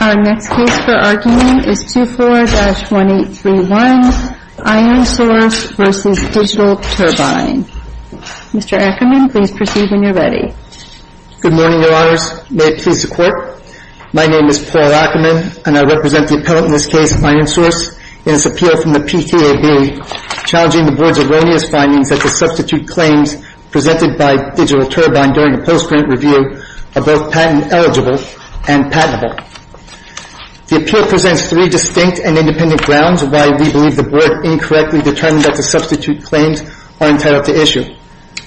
Our next case for argument is 24-1831, IronSource v. Digital Turbine. Mr. Ackerman, please proceed when you are ready. Good morning, Your Honors. May it please the Court, my name is Paul Ackerman, and I represent the appellant in this case, IronSource, in this appeal from the PTAB, challenging the Board's erroneous findings that the substitute claims presented by Digital Turbine during a post-grant review are both patent-eligible and patentable. The appeal presents three distinct and independent grounds why we believe the Board incorrectly determined that the substitute claims are entitled to issue.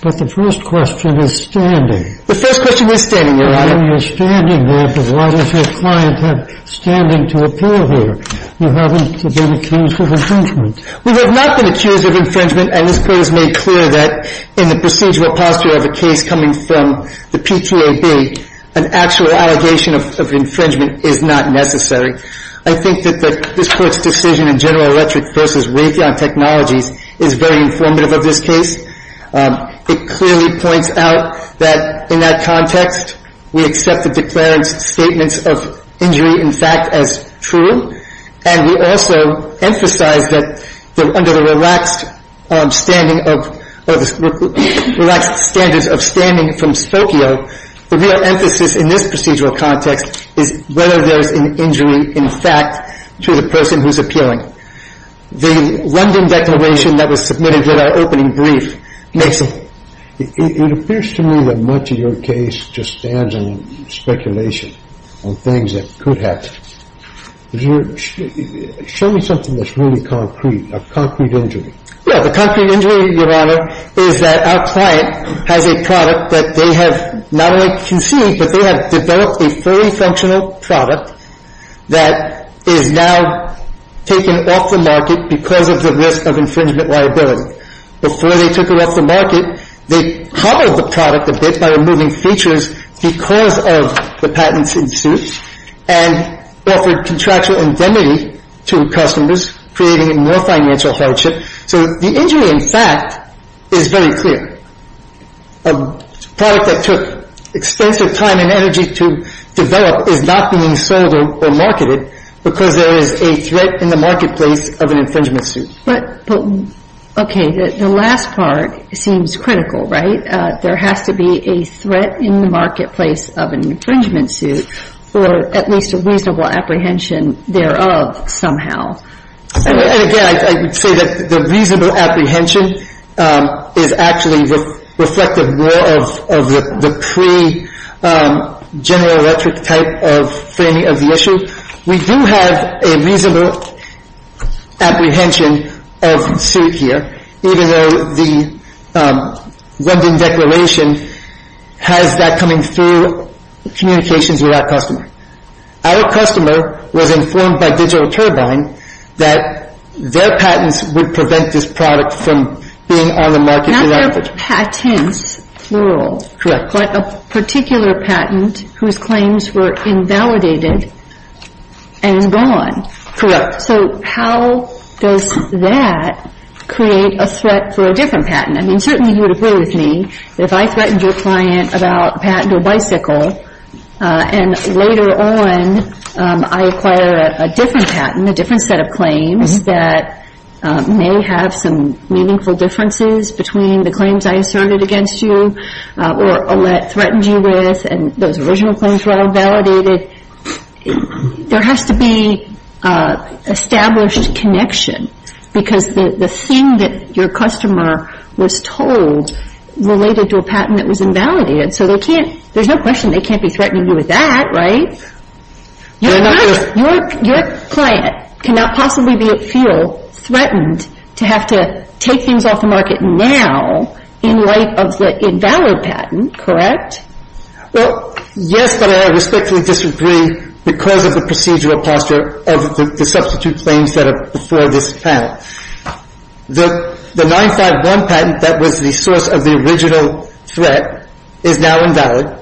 But the first question is standing. The first question is standing, Your Honor. I know you're standing there, but why does your client have standing to appeal here? You haven't been accused of infringement. We have not been accused of infringement, and this Court has made clear that in the procedural posture of a case coming from the PTAB, an actual allegation of infringement is not necessary. I think that this Court's decision in General Electric v. Raytheon Technologies is very informative of this case. It clearly points out that in that context, we accept the declared statements of injury in fact as true, and we also emphasize that under the relaxed standards of standing from Spokio, the real emphasis in this procedural context is whether there's an injury in fact to the person who's appealing. The London declaration that was submitted in our opening brief makes it. It appears to me that much of your case just stands on speculation, on things that could have happened. Show me something that's really concrete, a concrete injury. Yeah. The concrete injury, Your Honor, is that our client has a product that they have not only conceived, but they have developed a fully functional product that is now taken off the market because of the risk of infringement liability. Before they took it off the market, they colored the product a bit by removing features because of the patents in suit and offered contractual indemnity to customers, creating a more financial hardship. So the injury in fact is very clear. A product that took expensive time and energy to develop is not being sold or marketed because there is a threat in the marketplace of an infringement suit. But, okay, the last part seems critical, right? There has to be a threat in the marketplace of an infringement suit or at least a reasonable apprehension thereof somehow. And again, I would say that the reasonable apprehension is actually reflected more of the pre-General Electric type of framing of the issue. We do have a reasonable apprehension of suit here, even though the London Declaration has that coming through communications with our customer. Our customer was informed by Digital Turbine that their patents would prevent this product from being on the market. Not their patents, plural. Correct. But a particular patent whose claims were invalidated and gone. Correct. So how does that create a threat for a different patent? I mean, certainly you would agree with me that if I threatened your client about a patent or bicycle, and later on I acquire a different patent, a different set of claims that may have some meaningful differences between the claims I asserted against you or Ouellette threatened you with and those original claims were all validated, there has to be established connection because the thing that your customer was told related to a patent that was invalidated. So there's no question they can't be threatening you with that, right? Your client cannot possibly feel threatened to have to take things off the market now in light of the invalid patent, correct? Well, yes, but I respectfully disagree because of the procedural posture of the substitute claims that are before this panel. The 951 patent that was the source of the original threat is now invalid.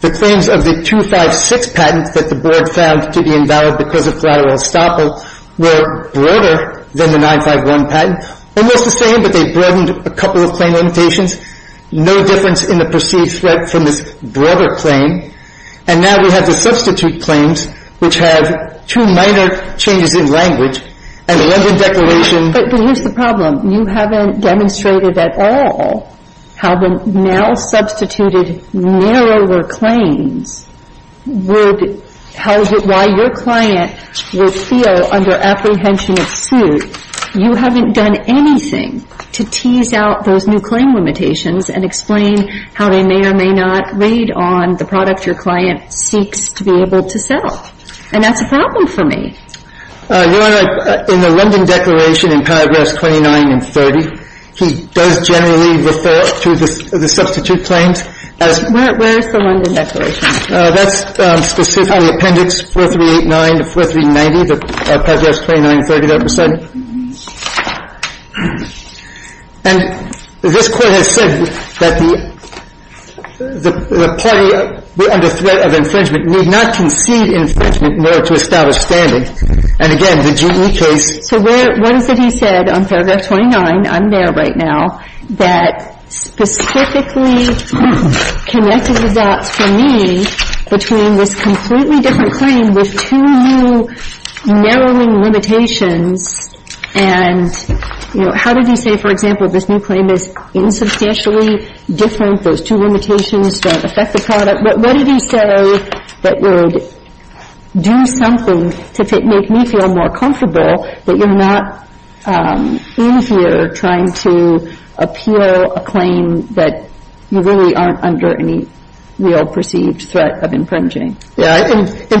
The claims of the 256 patent that the board found to be invalid because of collateral estoppel were broader than the 951 patent. Almost the same, but they broadened a couple of claim limitations. No difference in the perceived threat from this broader claim. And now we have the substitute claims which have two minor changes in language and London Declaration. But here's the problem. You haven't demonstrated at all how the now substituted narrower claims would, how your client would feel under apprehension of suit. You haven't done anything to tease out those new claim limitations and explain how they may or may not read on the product your client seeks to be able to sell. And that's a problem for me. Your Honor, in the London Declaration in paragraphs 29 and 30, he does generally refer to the substitute claims as Where is the London Declaration? That's specific on the appendix 4389 to 4390, the paragraphs 29 and 30 that were said. And this Court has said that the party under threat of infringement need not concede infringement in order to establish standard. And again, the GE case So what is it he said on paragraph 29, I'm there right now, that specifically connected results for me between this completely different claim with two new narrowing limitations. And how did he say, for example, this new claim is insubstantially different, those two limitations don't affect the product. But what did he say that would do something to make me feel more comfortable that you're not in here trying to appeal a claim that you really aren't under any real perceived threat of infringing? In 29,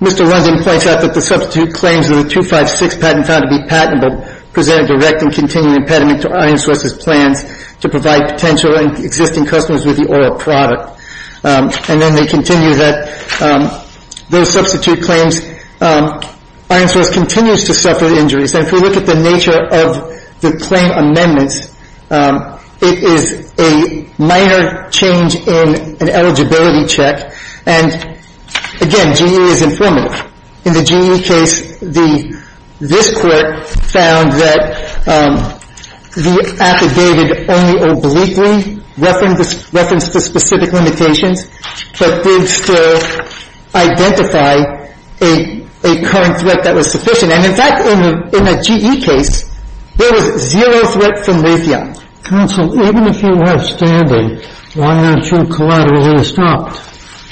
Mr. London points out that the substitute claims in the 256 patent found to be patentable presented a direct and continuing impediment to Iron Source's plans to provide potential and existing customers with the oil product. And then they continue that those substitute claims, Iron Source continues to suffer injuries. And if we look at the nature of the claim amendments, it is a minor change in an eligibility check. And again, GE is informative. In the GE case, this Court found that the affidavit only obliquely referenced the specific limitations, but did still identify a current threat that was sufficient. And in fact, in the GE case, there was zero threat from lithium. Counsel, even if you were standing, why aren't you collaterally stopped?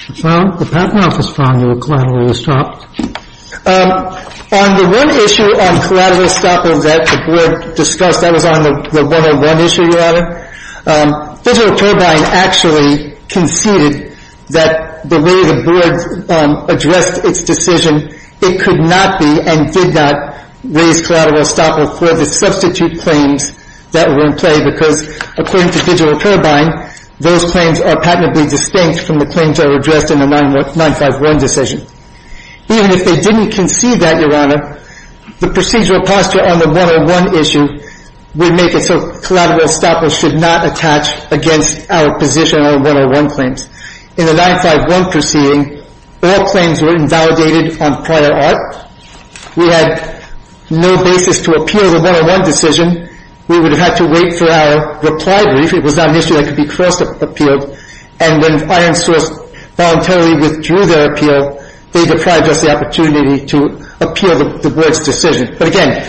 The patent office found you were collaterally stopped. On the one issue on collateral stopping that the Board discussed, that was on the 101 issue, Your Honor, Digital Turbine actually conceded that the way the Board addressed its decision, it could not be and did not raise collateral estoppel for the substitute claims that were in play because according to Digital Turbine, those claims are patently distinct from the claims that were addressed in the 951 decision. Even if they didn't concede that, Your Honor, the procedural posture on the 101 issue would make it so collateral estoppel should not attach against our position on 101 claims. In the 951 proceeding, all claims were invalidated on prior art. We had no basis to appeal the 101 decision. We would have had to wait for our reply brief. It was not an issue that could be cross-appealed. And when Iron Source voluntarily withdrew their appeal, they deprived us the opportunity to appeal the Board's decision. But again,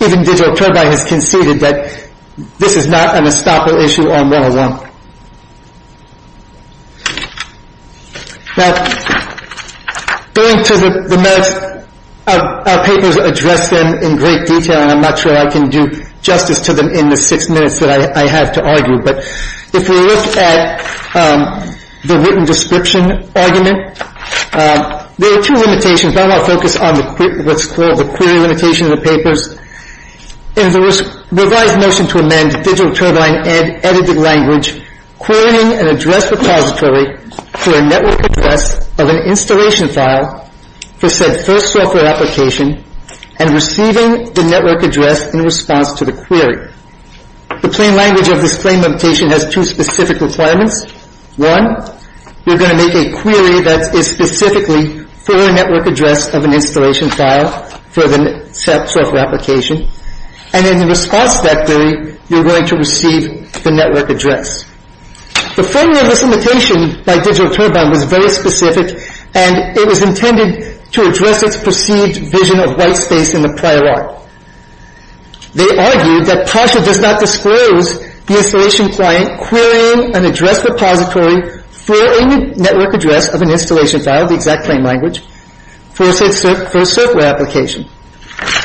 even Digital Turbine has conceded that this is not an estoppel issue on 101. Now, going to the merits, our papers address them in great detail, and I'm not sure I can do justice to them in the six minutes that I have to argue. But if we look at the written description argument, there are two limitations. But I want to focus on what's called the query limitation of the papers. It is a revised motion to amend Digital Turbine edited language, querying an address repository for a network address of an installation file for said first software application and receiving the network address in response to the query. The plain language of this claim limitation has two specific requirements. One, you're going to make a query that is specifically for a network address of an installation file for the software application, and in response to that query, you're going to receive the network address. The formula of this limitation by Digital Turbine was very specific, and it was intended to address its perceived vision of white space in the prior art. They argued that PASHA does not disclose the installation client querying an address repository for a network address of an installation file, the exact plain language, for a software application.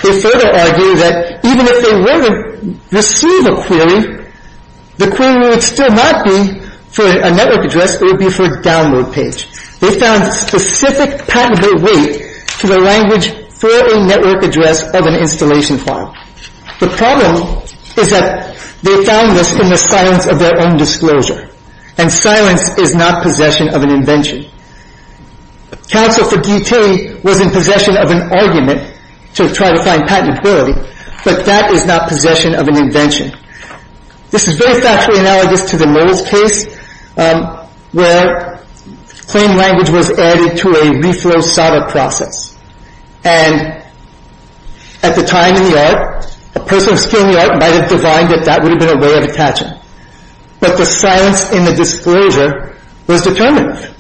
They further argued that even if they were to receive a query, the query would still not be for a network address. It would be for a download page. They found a specific patented way to the language for a network address of an installation file. The problem is that they found this in the silence of their own disclosure and silence is not possession of an invention. Counsel for D.T. was in possession of an argument to try to find patentability, but that is not possession of an invention. This is very factually analogous to the Moles case where plain language was added to a reflow solder process, and at the time in the art, a person of skill in the art might have divined that that would have been a way of attaching. But the silence in the disclosure was determinative.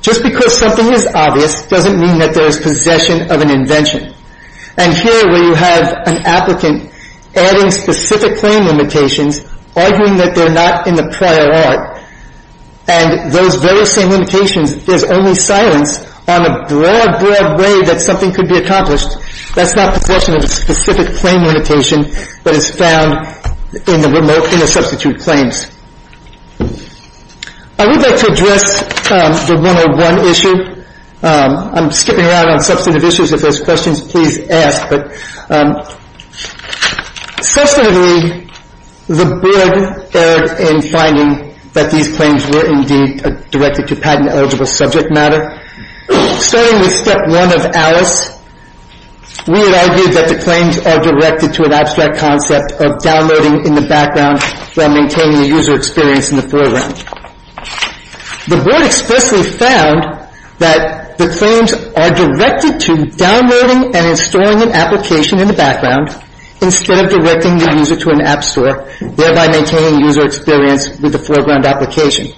Just because something is obvious doesn't mean that there is possession of an invention. And here where you have an applicant adding specific plain limitations, arguing that they're not in the prior art, and those very same limitations, there's only silence on a broad, broad way that something could be accomplished. That's not possession of a specific plain limitation, but it's found in the remote, in the substitute claims. I would like to address the 101 issue. I'm skipping around on substantive issues. If there's questions, please ask. But substantively, the burden there in finding that these claims were indeed directed to patent-eligible subject matter. Starting with step one of Alice, we had argued that the claims are directed to an abstract concept of downloading in the background while maintaining the user experience in the foreground. The board expressly found that the claims are directed to downloading and installing an application in the background instead of directing the user to an app store, thereby maintaining user experience with the foreground application.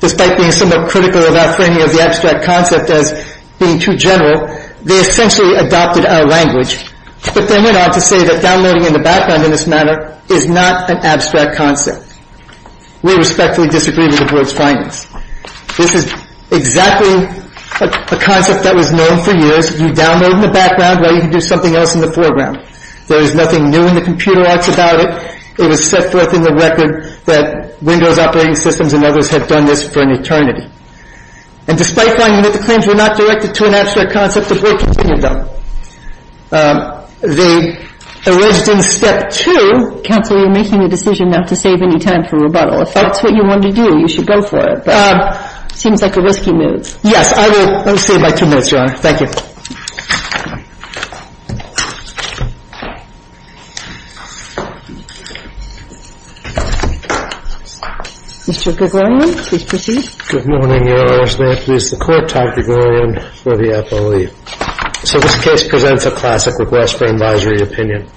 Despite being somewhat critical of our framing of the abstract concept as being too general, they essentially adopted our language, but then went on to say that downloading in the background in this manner is not an abstract concept. We respectfully disagree with the board's findings. This is exactly a concept that was known for years. You download in the background while you can do something else in the foreground. There is nothing new in the computer arts about it. It was set forth in the record that Windows operating systems and others had done this for an eternity. And despite finding that the claims were not directed to an abstract concept, the board continued them. They arranged in step two. Counsel, you're making a decision not to save any time for rebuttal. If that's what you want to do, you should go for it. But it seems like a risky move. Yes, I will. Let me save my two minutes, Your Honor. Thank you. Mr. Gregorian, please proceed. Good morning, Your Honor. This is the court-type Gregorian for the FOA. So this case presents a classic request for advisory opinion.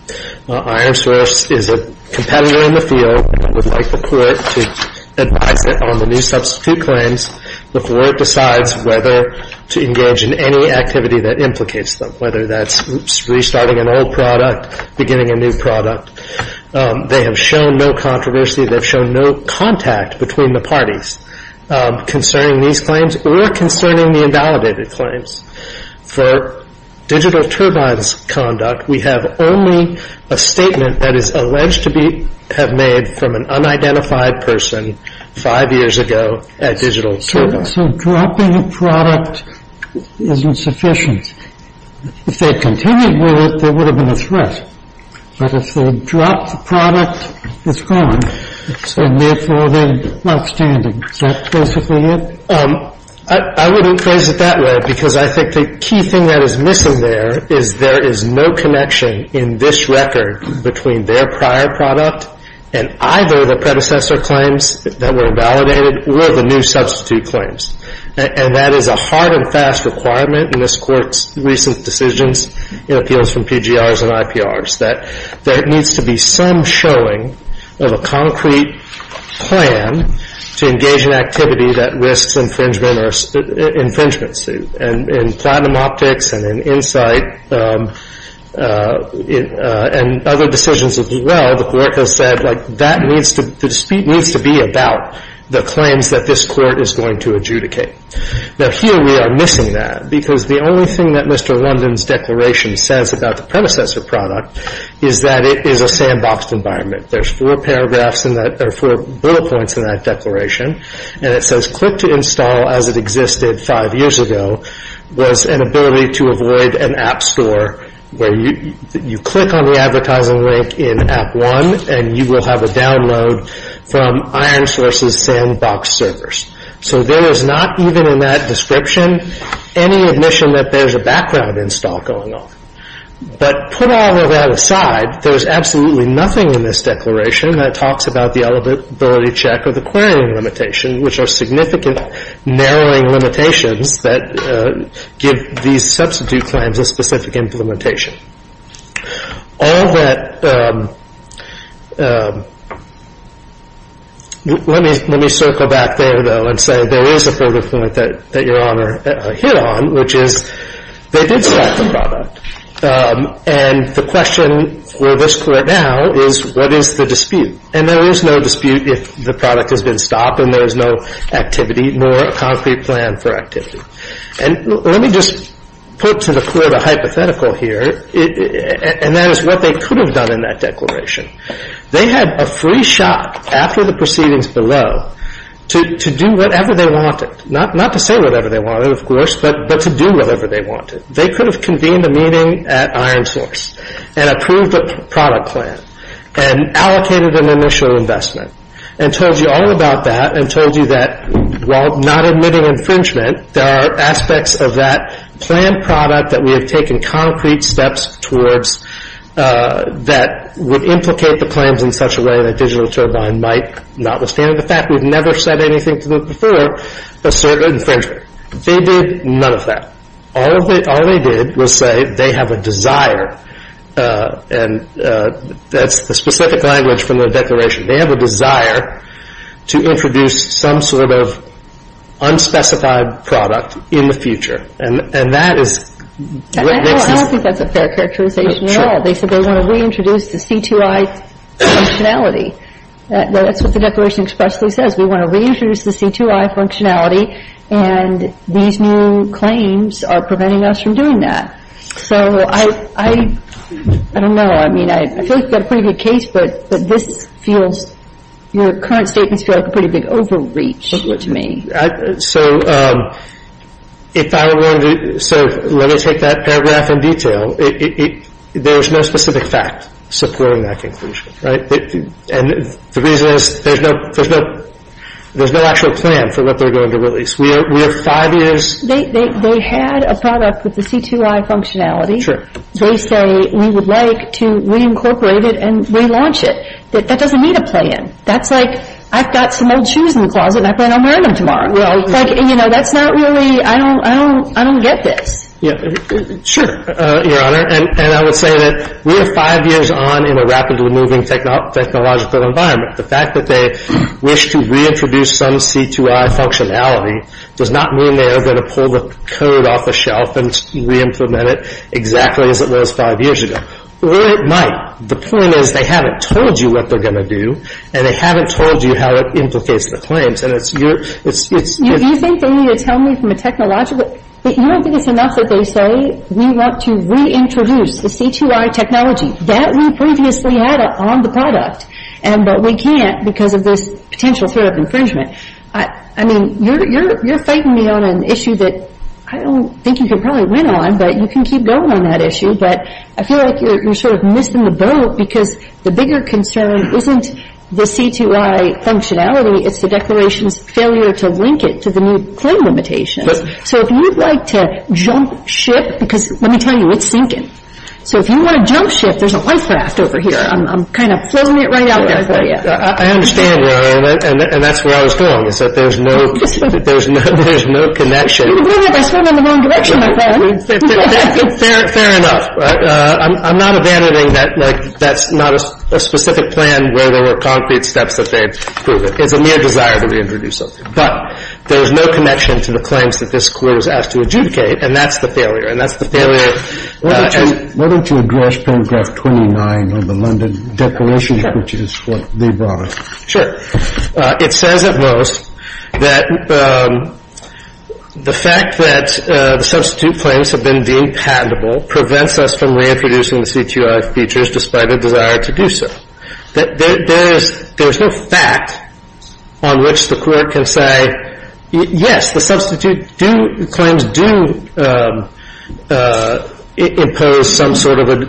Our answer is a competitor in the field would like the court to advise it on the new substitute claims before it decides whether to engage in any activity that implicates them, whether that's restarting an old product, beginning a new product. They have shown no controversy. They've shown no contact between the parties concerning these claims or concerning the invalidated claims. For Digital Turbine's conduct, we have only a statement that is alleged to have been made from an unidentified person five years ago at Digital Turbine. So dropping a product isn't sufficient. If they had continued with it, there would have been a threat. But if they dropped the product, it's gone, and therefore they're not standing. Is that basically it? I wouldn't phrase it that way, because I think the key thing that is missing there is there is no connection in this record between their prior product and either the predecessor claims that were invalidated or the new substitute claims. And that is a hard and fast requirement in this Court's recent decisions in appeals from PGRs and IPRs, that there needs to be some showing of a concrete plan to engage in activity that risks infringement or infringement suit. And in Platinum Optics and in Insight and other decisions as well, the Court has said, like, that needs to be about the claims that this Court is going to adjudicate. Now, here we are missing that, because the only thing that Mr. London's declaration says about the predecessor product is that it is a sandboxed environment. There's four paragraphs in that, or four bullet points in that declaration, and it says, Click to install as it existed five years ago was an ability to avoid an app store where you click on the advertising link in app one and you will have a download from IronSource's sandbox servers. So there is not, even in that description, any admission that there's a background install going on. But put all of that aside, there's absolutely nothing in this declaration that talks about the eligibility check or the querying limitation, which are significant narrowing limitations that give these substitute claims a specific implementation. All that, let me circle back there, though, and say there is a further point that Your Honor hit on, which is they did swap the product. And the question for this Court now is, what is the dispute? And there is no dispute if the product has been stopped and there is no activity, nor a concrete plan for activity. And let me just put to the Court a hypothetical here, and that is what they could have done in that declaration. They had a free shot after the proceedings below to do whatever they wanted, not to say whatever they wanted, of course, but to do whatever they wanted. They could have convened a meeting at IronSource and approved a product plan and allocated an initial investment and told you all about that and told you that while not admitting infringement, there are aspects of that planned product that we have taken concrete steps towards that would implicate the claims in such a way that DigitalTurbine might, notwithstanding the fact we've never said anything to them before, assert infringement. They did none of that. All they did was say they have a desire, and that's the specific language from the declaration. They have a desire to introduce some sort of unspecified product in the future. And that is what makes this — I don't think that's a fair characterization at all. They said they want to reintroduce the C2I functionality. That's what the declaration expressly says. We want to reintroduce the C2I functionality, and these new claims are preventing us from doing that. So I don't know. I mean, I feel like you've got a pretty good case, but this feels — your current statements feel like a pretty big overreach to me. So if I were going to — so let me take that paragraph in detail. There is no specific fact supporting that conclusion, right? And the reason is there's no actual plan for what they're going to release. We have five years — They had a product with the C2I functionality. They say we would like to reincorporate it and relaunch it. That doesn't need a plan. That's like, I've got some old shoes in the closet, and I plan on wearing them tomorrow. You know, that's not really — I don't get this. Sure, Your Honor. And I would say that we are five years on in a rapidly moving technological environment. The fact that they wish to reintroduce some C2I functionality does not mean they are going to pull the code off the shelf and reimplement it exactly as it was five years ago. Or it might. The point is they haven't told you what they're going to do, and they haven't told you how it implicates the claims. You think they need to tell me from a technological — You don't think it's enough that they say, we want to reintroduce the C2I technology that we previously had on the product, but we can't because of this potential threat of infringement. I mean, you're fighting me on an issue that I don't think you can probably win on, but you can keep going on that issue. But I feel like you're sort of missing the boat because the bigger concern isn't the C2I functionality. It's the Declaration's failure to link it to the new claim limitations. So if you'd like to jump ship, because let me tell you, it's sinking. So if you want to jump ship, there's a life raft over here. I'm kind of floating it right out there for you. I understand, Rory, and that's where I was going, is that there's no connection. You'd agree with me if I swam in the wrong direction, my friend. Fair enough. I'm not abandoning that. That's not a specific plan where there were concrete steps that they'd prove it. It's a mere desire to reintroduce something. But there is no connection to the claims that this Court was asked to adjudicate, and that's the failure, and that's the failure. Why don't you address paragraph 29 of the London Declaration, which is what they brought us? Sure. It says at most that the fact that the substitute claims have been deemed patentable prevents us from reintroducing the C2I features despite a desire to do so. There's no fact on which the Court can say, yes, the substitute claims do impose some sort of a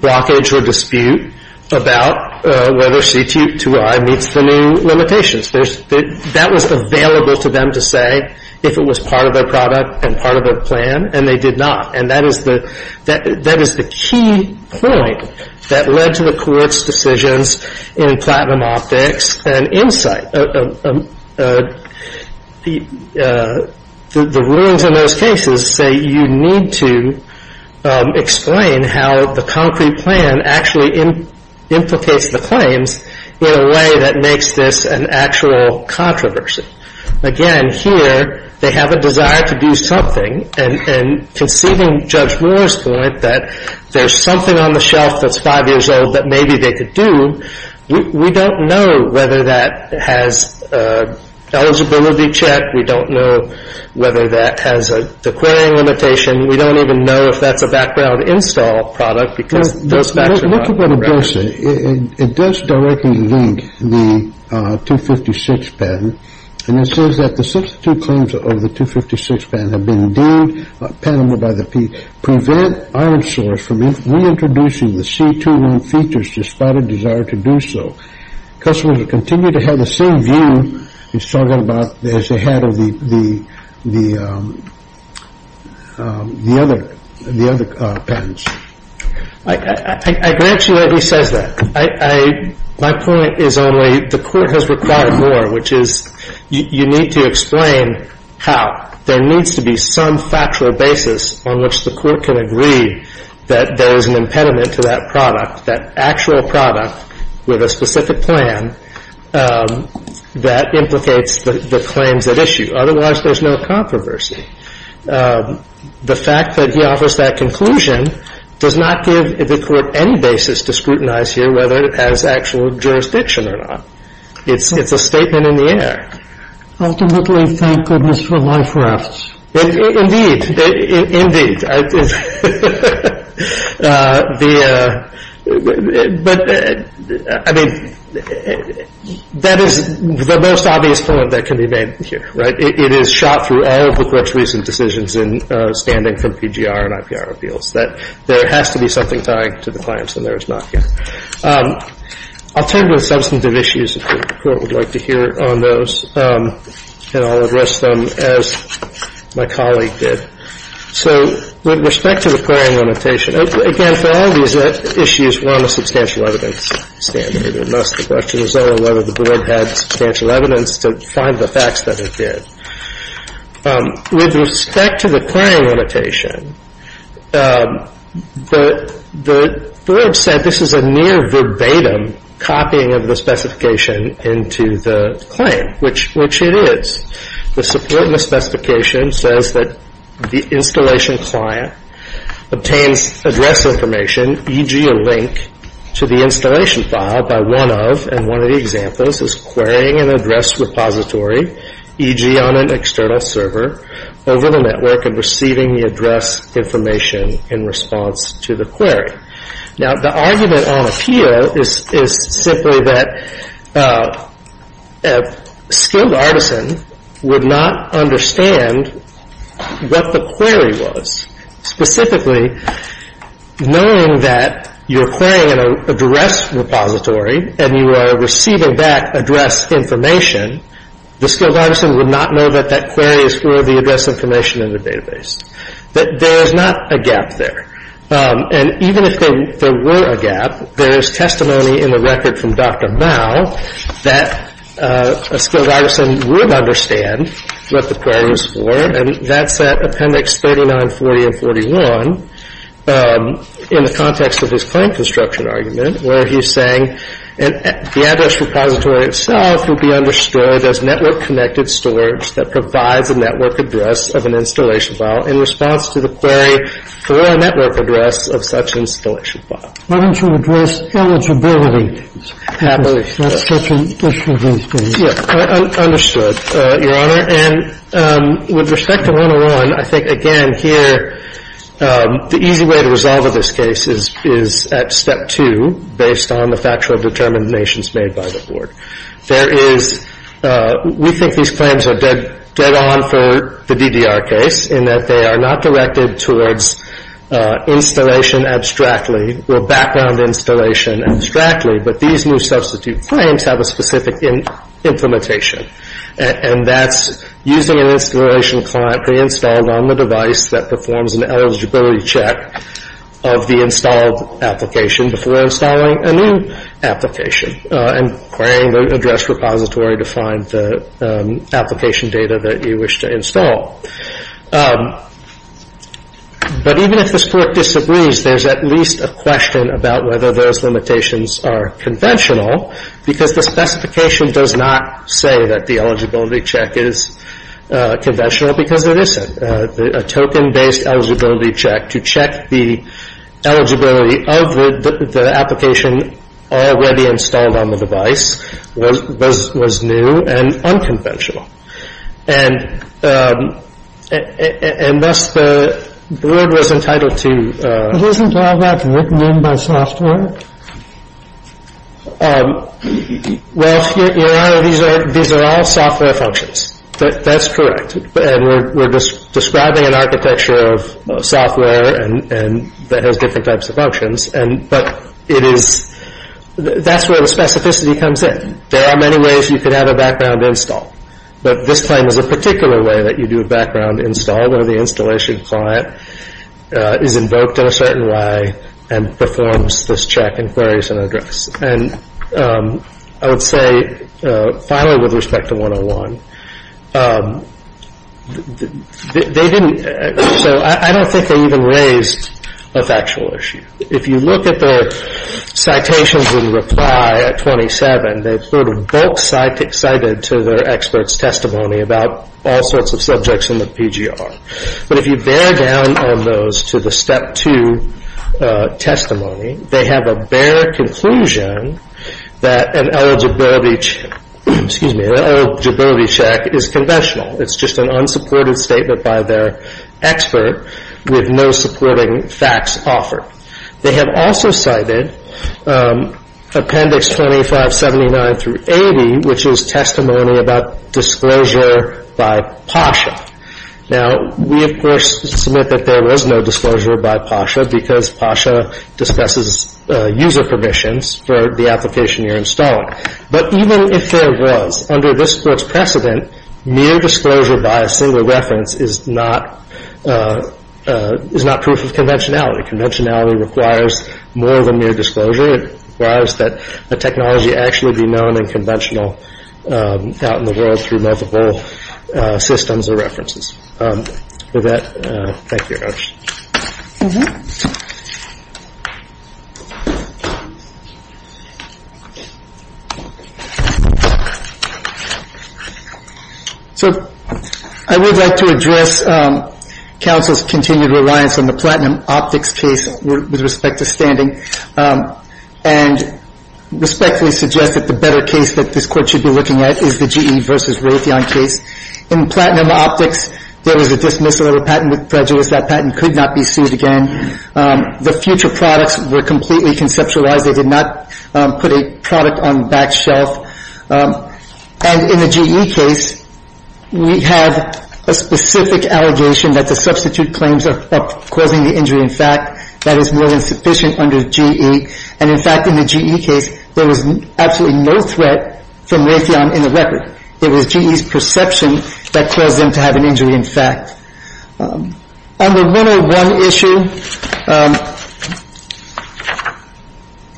blockage or dispute about whether C2I meets the new limitations. That was available to them to say if it was part of their product and part of their plan, and they did not. And that is the key point that led to the Court's decisions in Platinum Optics and Insight. The rulings in those cases say you need to explain how the concrete plan actually implicates the claims in a way that makes this an actual controversy. Again, here, they have a desire to do something. And conceding Judge Moore's point that there's something on the shelf that's five years old that maybe they could do, we don't know whether that has eligibility check. We don't know whether that has a declaring limitation. We don't even know if that's a background install product because those facts are not correct. Yes, it does directly link the 256 patent. And it says that the substitute claims of the 256 patent have been deemed patentable by the Pete. Prevent Island Source from reintroducing the C2I features despite a desire to do so. Customers will continue to have the same view as they had of the other patents. I grant you that he says that. My point is only the Court has required more, which is you need to explain how. There needs to be some factual basis on which the Court can agree that there is an impediment to that product, that actual product with a specific plan that implicates the claims at issue. Otherwise, there's no controversy. The fact that he offers that conclusion does not give the Court any basis to scrutinize here, whether it has actual jurisdiction or not. It's a statement in the air. Ultimately, thank goodness for life rafts. Indeed, indeed. But, I mean, that is the most obvious point that can be made here, right? It is shot through all of the glitches and decisions in standing from PGR and IPR appeals, that there has to be something tying to the claims and there is not yet. I'll turn to the substantive issues if the Court would like to hear on those, and I'll address them as my colleague did. So with respect to the clearing limitation, again, for all these issues, we're on a substantial evidence standard. Most of the questions are whether the Board had substantial evidence to find the facts that it did. With respect to the clearing limitation, the Board said this is a near verbatim copying of the specification into the claim, which it is. The support in the specification says that the installation client obtains address information, e.g., a link to the installation file by one of, and one of the examples is querying an address repository, e.g., on an external server over the network and receiving the address information in response to the query. Now, the argument on appeal is simply that a skilled artisan would not understand what the query was, specifically knowing that you're querying an address repository and you are receiving that address information, the skilled artisan would not know that that query is for the address information in the database, that there is not a gap there. And even if there were a gap, there is testimony in the record from Dr. Mao that a skilled artisan would understand what the query was for, and that's at Appendix 3940 and 41 in the context of this claim construction argument, where he's saying the address repository itself would be understood as network-connected storage that provides a network address of an installation file in response to the query for a network address of such an installation file. Why don't you address eligibility? Happily. That's such an issue he's going to address. Yes, understood, Your Honor. And with respect to 101, I think, again, here, the easy way to resolve this case is at Step 2, based on the factual determinations made by the Board. There is we think these claims are dead on for the DDR case in that they are not directed towards installation abstractly or background installation abstractly, but these new substitute claims have a specific implementation, and that's using an installation client pre-installed on the device that performs an eligibility check of the installed application before installing a new application and querying the address repository to find the application data that you wish to install. But even if this Court disagrees, there's at least a question about whether those limitations are conventional because the specification does not say that the eligibility check is conventional because it isn't. A token-based eligibility check to check the eligibility of the application already installed on the device was new and unconventional. And thus the Board was entitled to... Isn't all that written in by software? Well, Your Honor, these are all software functions. That's correct, and we're describing an architecture of software that has different types of functions, but that's where the specificity comes in. There are many ways you could have a background install, but this claim is a particular way that you do a background install where the installation client is invoked in a certain way and performs this check and queries an address. And I would say, finally, with respect to 101, they didn't... So I don't think they even raised a factual issue. If you look at the citations in reply at 27, they put a bulk cited to their expert's testimony about all sorts of subjects in the PGR. But if you bear down on those to the Step 2 testimony, they have a bare conclusion that an eligibility check is conventional. It's just an unsupported statement by their expert with no supporting facts offered. They have also cited Appendix 2579 through 80, which is testimony about disclosure by PASHA. Now, we, of course, submit that there was no disclosure by PASHA because PASHA dispenses user permissions for the application you're installing. But even if there was, under this court's precedent, mere disclosure by a single reference is not proof of conventionality. Conventionality requires more than mere disclosure. It requires that the technology actually be known and conventional out in the world through multiple systems or references. With that, thank you very much. So I would like to address counsel's continued reliance on the platinum optics case with respect to standing and respectfully suggest that the better case that this court should be looking at is the GE versus Raytheon case. In platinum optics, there was a dismissal of a patent with prejudice. That patent could not be sued again. The future products were completely conceptualized. They did not put a product on the back shelf. And in the GE case, we have a specific allegation that the substitute claims are causing the injury. In fact, that is more than sufficient under GE. And, in fact, in the GE case, there was absolutely no threat from Raytheon in the record. It was GE's perception that caused them to have an injury, in fact. On the 101 issue,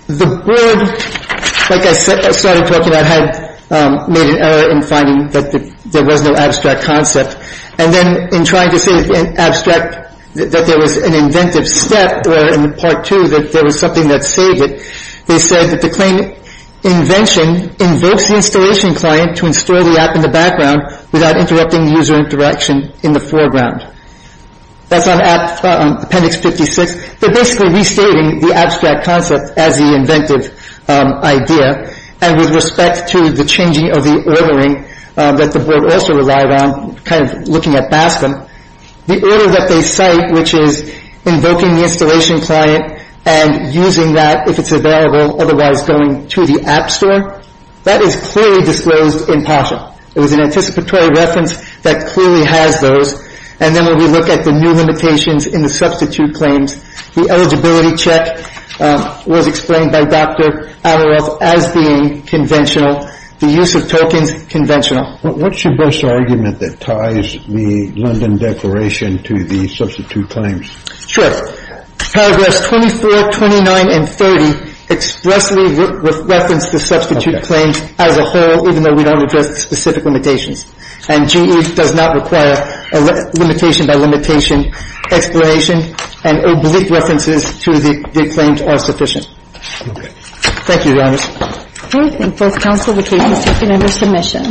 the board, like I started talking about, had made an error in finding that there was no abstract concept. And then in trying to say in abstract that there was an inventive step or in part two that there was something that saved it, they said that the claim invention invokes the installation client to install the app in the background without interrupting the user interaction in the foreground. That's on appendix 56. They're basically restating the abstract concept as the inventive idea. And with respect to the changing of the ordering that the board also relied on, kind of looking at BASCM, the order that they cite, which is invoking the installation client and using that if it's available, otherwise going to the app store, that is clearly disclosed in PASHA. It was an anticipatory reference that clearly has those. And then when we look at the new limitations in the substitute claims, the eligibility check was explained by Dr. Adleroff as being conventional, the use of tokens conventional. What's your best argument that ties the London Declaration to the substitute claims? Sure. Paragraphs 24, 29, and 30 expressly reference the substitute claims as a whole, even though we don't address the specific limitations. And GE does not require a limitation by limitation explanation, and oblique references to the claims are sufficient. Thank you, Your Honors. Thank you. I thank both counsel. The case is taken under submission.